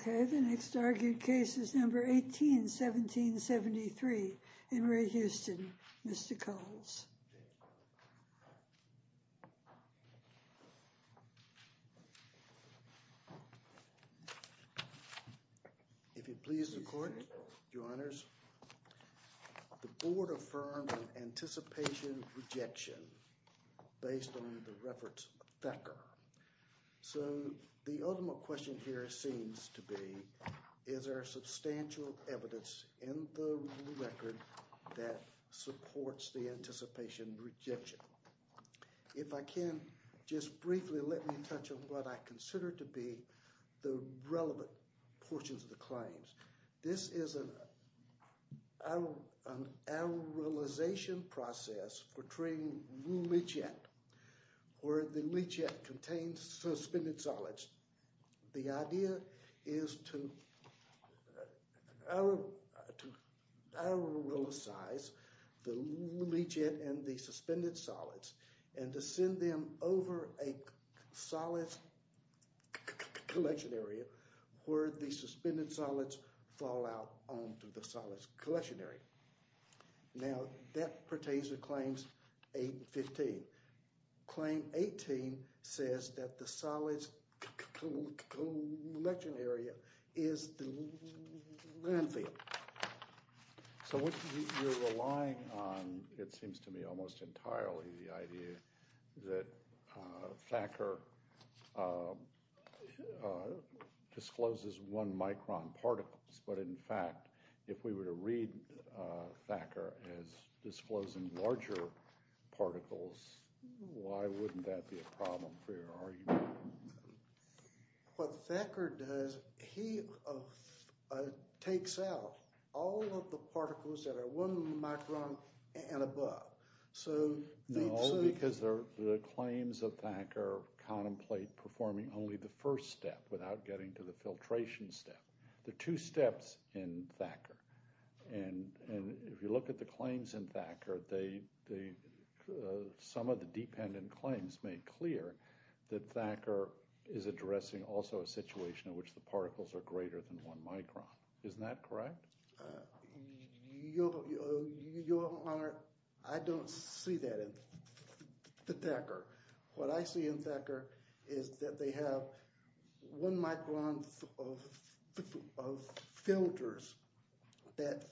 Okay, the next argued case is number 18, 1773, Henry Houston, Mr. Coles. If it pleases the court, your honors, the board affirmed an anticipation of rejection based on the reference of Thacker. So the ultimate question here seems to be, is there substantial evidence in the record that supports the anticipation of rejection? If I can just briefly let me touch on what I consider to be the relevant portions of the leachate, where the leachate contains suspended solids. The idea is to auralize the leachate and the suspended solids and to send them over a solid collection area where the suspended solids fall out onto the solid collection area. Now that pertains to claims 8 and 15. Claim 18 says that the solids collection area is the landfill. So what you're relying on, it seems to me, almost entirely the idea that Thacker discloses one micron particles. But in fact, if we were to read Thacker as disclosing larger particles, why wouldn't that be a problem for your argument? What Thacker does, he takes out all of the particles that are one micron and above. So... No, because the claims of Thacker contemplate performing only the first step without getting to the filtration step. The two steps in Thacker. And if you look at the claims in Thacker, some of the dependent claims made clear that Thacker is addressing also a situation in which particles are greater than one micron. Isn't that correct? Your Honor, I don't see that in Thacker. What I see in Thacker is that they have one micron of filters that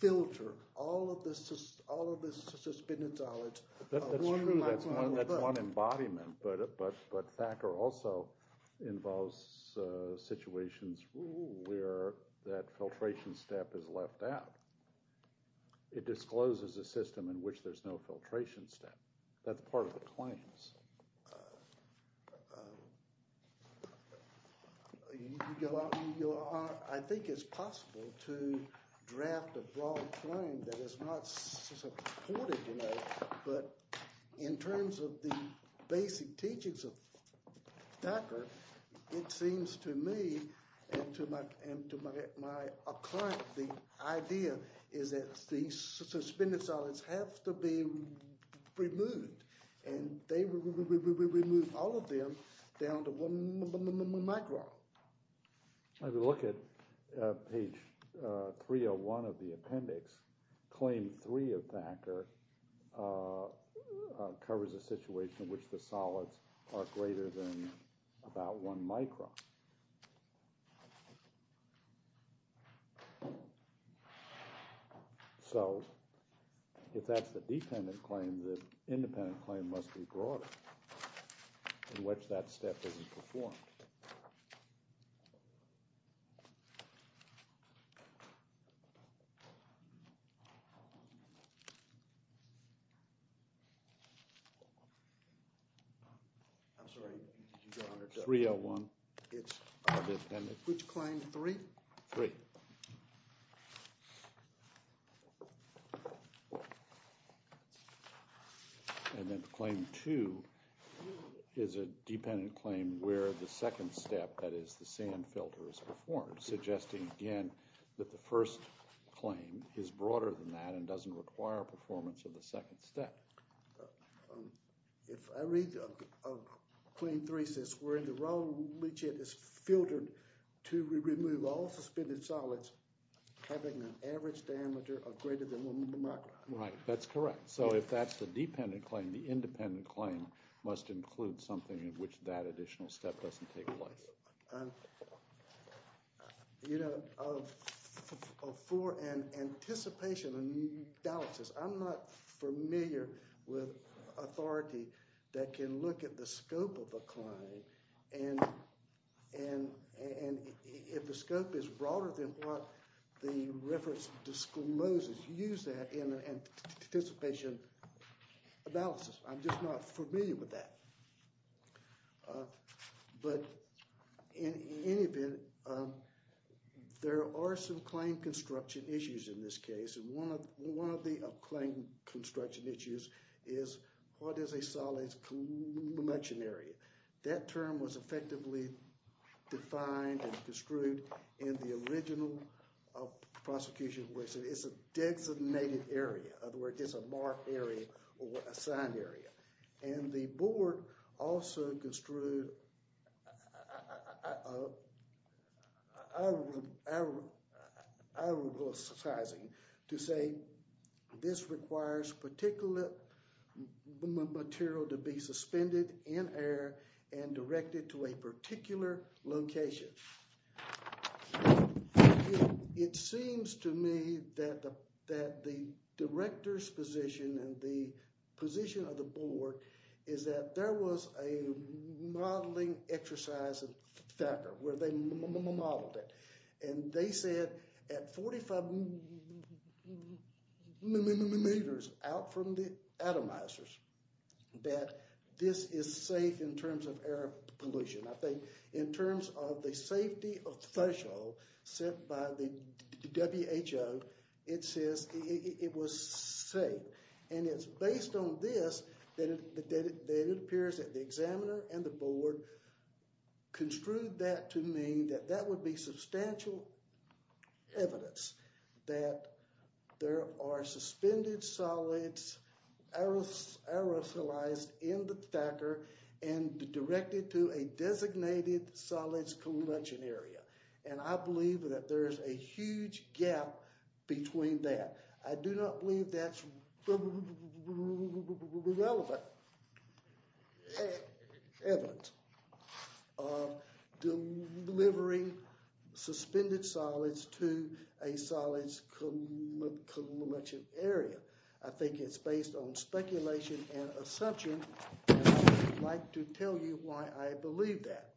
filter all of the suspended solids. That's true. That's one embodiment. But Thacker also involves situations where that filtration step is left out. It discloses a system in which there's no filtration step. That's part of the claims. Your Honor, I think it's possible to draft a broad claim that is not supported. But in terms of the basic teachings of Thacker, it seems to me, and to my client, the idea is that the suspended solids have to be removed. And they remove all of them down to one micron. If you look at page 301 of the appendix, claim three of Thacker covers a situation in which the solids are greater than about one micron. So if that's the dependent claim, the independent claim must be broader in which that step isn't performed. I'm sorry, Your Honor. 301. It's which claim, three? Three. And then claim two is a dependent claim where the second step, that is the sand filter, is performed, suggesting again that the first claim is broader than that and doesn't require performance of the second step. If I read claim three, it says where the raw leachate is filtered to remove all suspended solids having an average diameter of greater than one micron. Right, that's correct. So if that's the dependent claim, the independent claim must include something in which that additional step doesn't take place. Your Honor, for an anticipation analysis, I'm not familiar with authority that can look at the scope of a claim and if the scope is broader than what the reference discloses, use that in an anticipation analysis. I'm just not familiar with that. But in any event, there are some claim construction issues in this case. And one of the claim construction issues is what is a solid conglomeration area. That term was effectively defined and construed in the original prosecution where it said it's a designated area. In other words, it's a marked area or assigned area. And the board also construed I will say this requires particular material to be suspended in air and directed to a particular location. It seems to me that the director's position and the position of the board is that there was a modeling exercise in Thacker where they modeled it. And they said at 45 meters out from the atomizers that this is safe in terms of air pollution. I think in terms of the safety official sent by the WHO, it says it was safe. And it's based on this that it appears that the examiner and the board construed that to mean that that would be substantial evidence that there are suspended solids aerosolized in the Thacker and directed to a designated solids conglomeration area. And I believe that there is a huge gap between that. I do not believe that's relevant evidence of delivering suspended solids to a solids conglomeration area. I think it's based on speculation and assumption. I'd like to tell you why I believe that.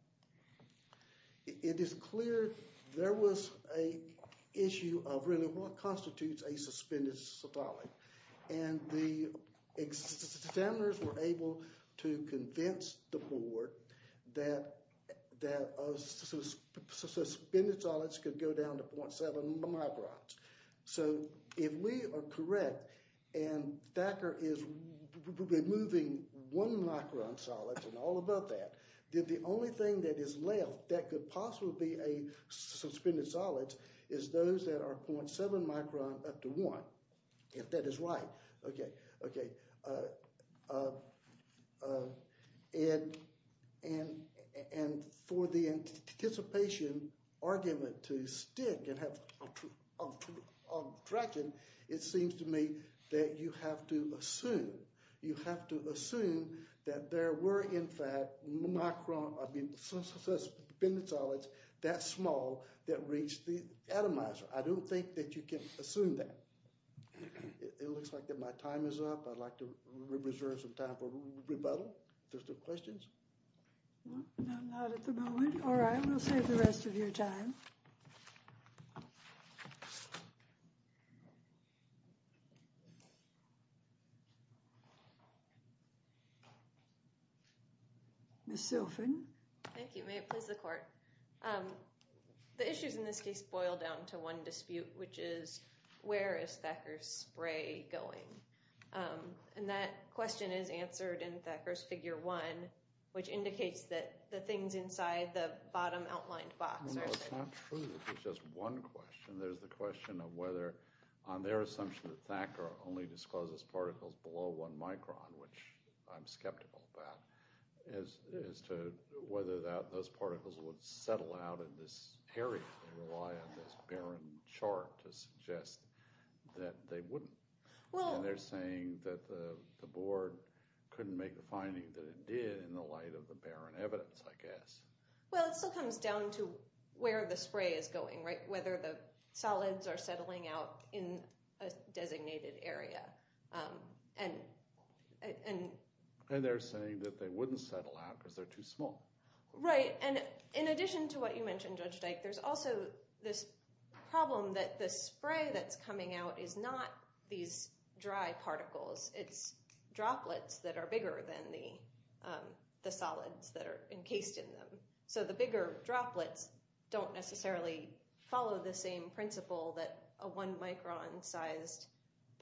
It is clear there was a issue of really what constitutes a suspended solid. And the examiners were able to convince the board that suspended solids could go down to 0.7 microns. So if we are correct and Thacker is removing one micron solids and all about that, then the only thing that is left that could possibly be a suspended solid is those that are 0.7 micron up to one, if that is right. And for the anticipation argument to stick and have traction, it seems to me that you have to assume. You have to assume that there were, in fact, suspended solids that small that reached the atomizer. I don't think that you can assume that. It looks like that my time is up. I'd like to reserve some time for rebuttal. There's no questions? No, not at the moment. All right, we'll save the rest of your time. Ms. Silfen. Thank you. May it please the court. The issues in this case boil down to one dispute, which is where is Thacker's spray going? And that question is answered in Thacker's figure one, which indicates that the things inside the bottom outlined box are safe. It's not true that there's just one question. There's the question of whether on their assumption that Thacker only discloses particles below one micron, which I'm skeptical about, as to whether that those particles would out in this area. They rely on this barren chart to suggest that they wouldn't. And they're saying that the board couldn't make a finding that it did in the light of the barren evidence, I guess. Well, it still comes down to where the spray is going, right? Whether the solids are settling out in a designated area. And they're saying that they wouldn't settle out because they're too small. Right. And in addition to what you mentioned, Judge Dyke, there's also this problem that the spray that's coming out is not these dry particles. It's droplets that are bigger than the solids that are encased in them. So the bigger droplets don't necessarily follow the same principle that a one micron sized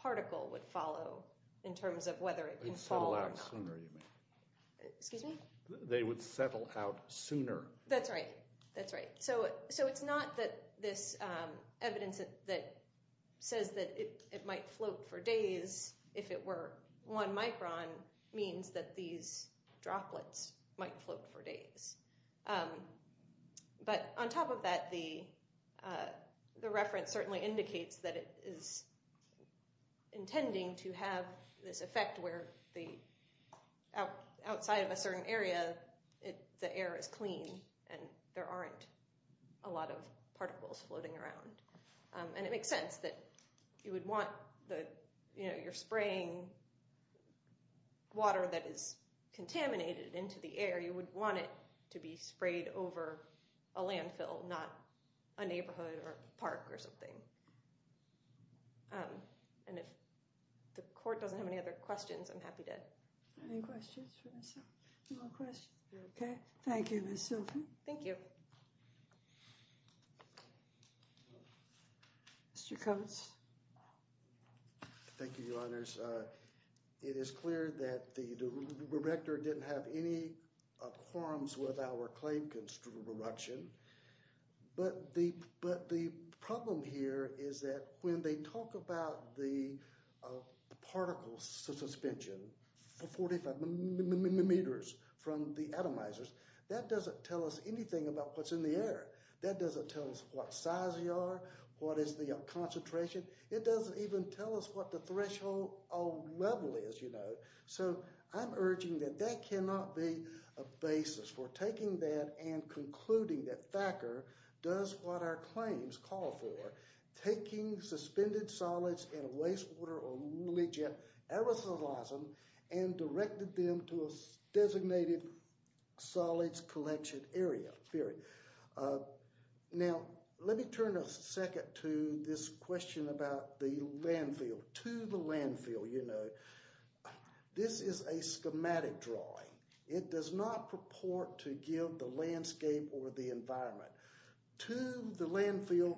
particle would follow in terms of whether it can fall. Excuse me? They would settle out sooner. That's right. That's right. So it's not that this evidence that says that it might float for days if it were one micron means that these droplets might float for days. But on top of that, the outside of a certain area, the air is clean and there aren't a lot of particles floating around. And it makes sense that you would want your spraying water that is contaminated into the air. You would want it to be sprayed over a landfill, not a neighborhood or park or something. And if the court doesn't have any other questions, I'm happy to answer any questions for myself. No questions. Okay. Thank you, Ms. Silken. Thank you. Mr. Coates. Thank you, Your Honors. It is clear that the director didn't have any quorums with our claim construction. But the problem here is that when they talk about the particle suspension for 45 millimeters from the atomizers, that doesn't tell us anything about what's in the air. That doesn't tell us what size you are, what is the concentration. It doesn't even tell us what the threshold level is, you know. So I'm urging that that cannot be a basis for taking that and concluding that Thacker does what our claims call for. Taking suspended solids in a waste water or legit aerosolism and directed them to a designated solids collection area. Now, let me turn a second to this question about the landfill. To the landfill, you know, this is a schematic drawing. It does not purport to give the landscape or the environment. To the landfill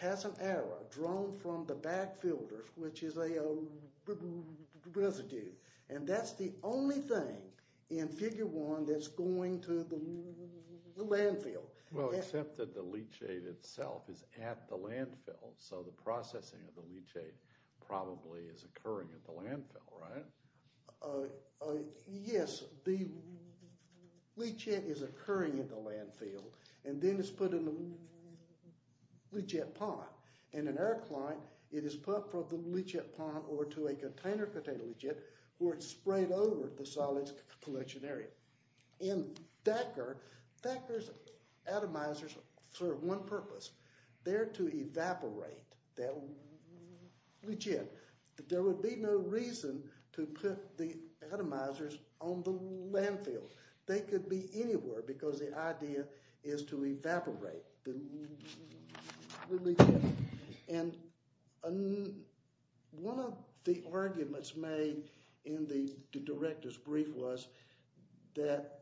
has an error drawn from the back filters, which is a residue. And that's the only thing in figure one that's going to the landfill. Well, except that the leachate itself is at the landfill. So the processing of the leachate probably is occurring at the landfill, right? Yes, the leachate is occurring at the landfill and then it's put in the leachate pond. In an air client, it is put from the leachate pond over to a container of potato leachate where it's sprayed over the solids collection area. In Thacker, Thacker's atomizers serve one purpose. They're to evaporate that leachate. There would be no reason to put the atomizers on the landfill. They could be anywhere because the idea is to evaporate. And one of the arguments made in the director's brief was that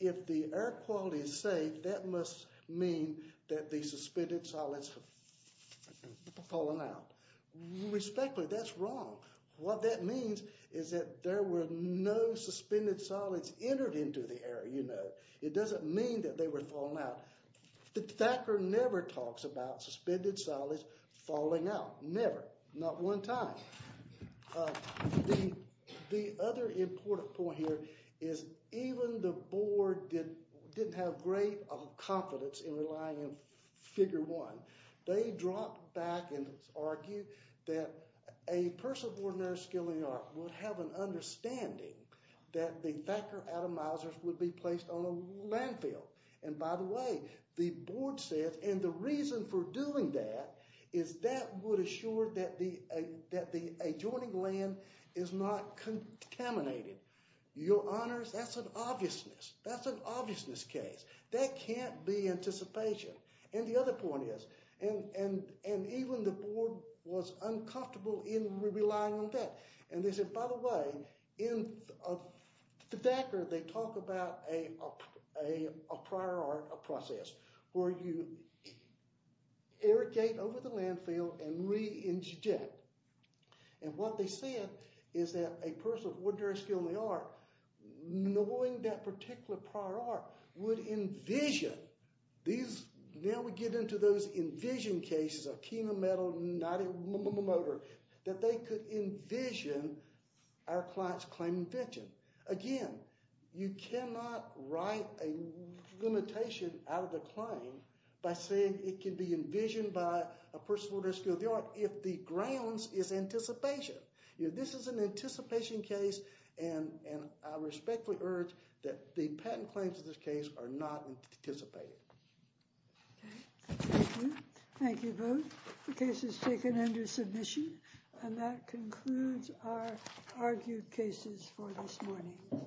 if the air quality is safe, that must mean that the suspended solids have fallen out. Respectfully, that's wrong. What that means is that there were no suspended solids entered into the air. You know, it doesn't mean that they were falling out. Thacker never talks about suspended solids falling out. Never. Not one time. The other important point here is even the board didn't have great confidence in relying on figure one. They dropped back and argued that a person of ordinary skill and art would have an understanding that the Thacker atomizers would be placed on a landfill. And by the way, the board said, and the reason for doing that is that would assure that the adjoining land is not contaminated. Your honors, that's an obviousness case. That can't be anticipation. And the other point is, and even the board was uncomfortable in relying on that. And they said, by the way, in Thacker, they talk about a prior art process where you irrigate over the landfill and re-inject. And what they said is that a person of ordinary skill and the art, knowing that particular prior art, would envision these. Now we get into those envision cases of chemo metal, not a motor, that they could envision our client's claim invention. Again, you cannot write a limitation out of the claim by saying it can be envisioned by a person of ordinary skill if the grounds is anticipation. This is an anticipation case, and I respectfully urge that the patent claims of this case are not anticipated. Okay, thank you. Thank you both. The case is taken under submission, and that concludes our argued cases for this morning.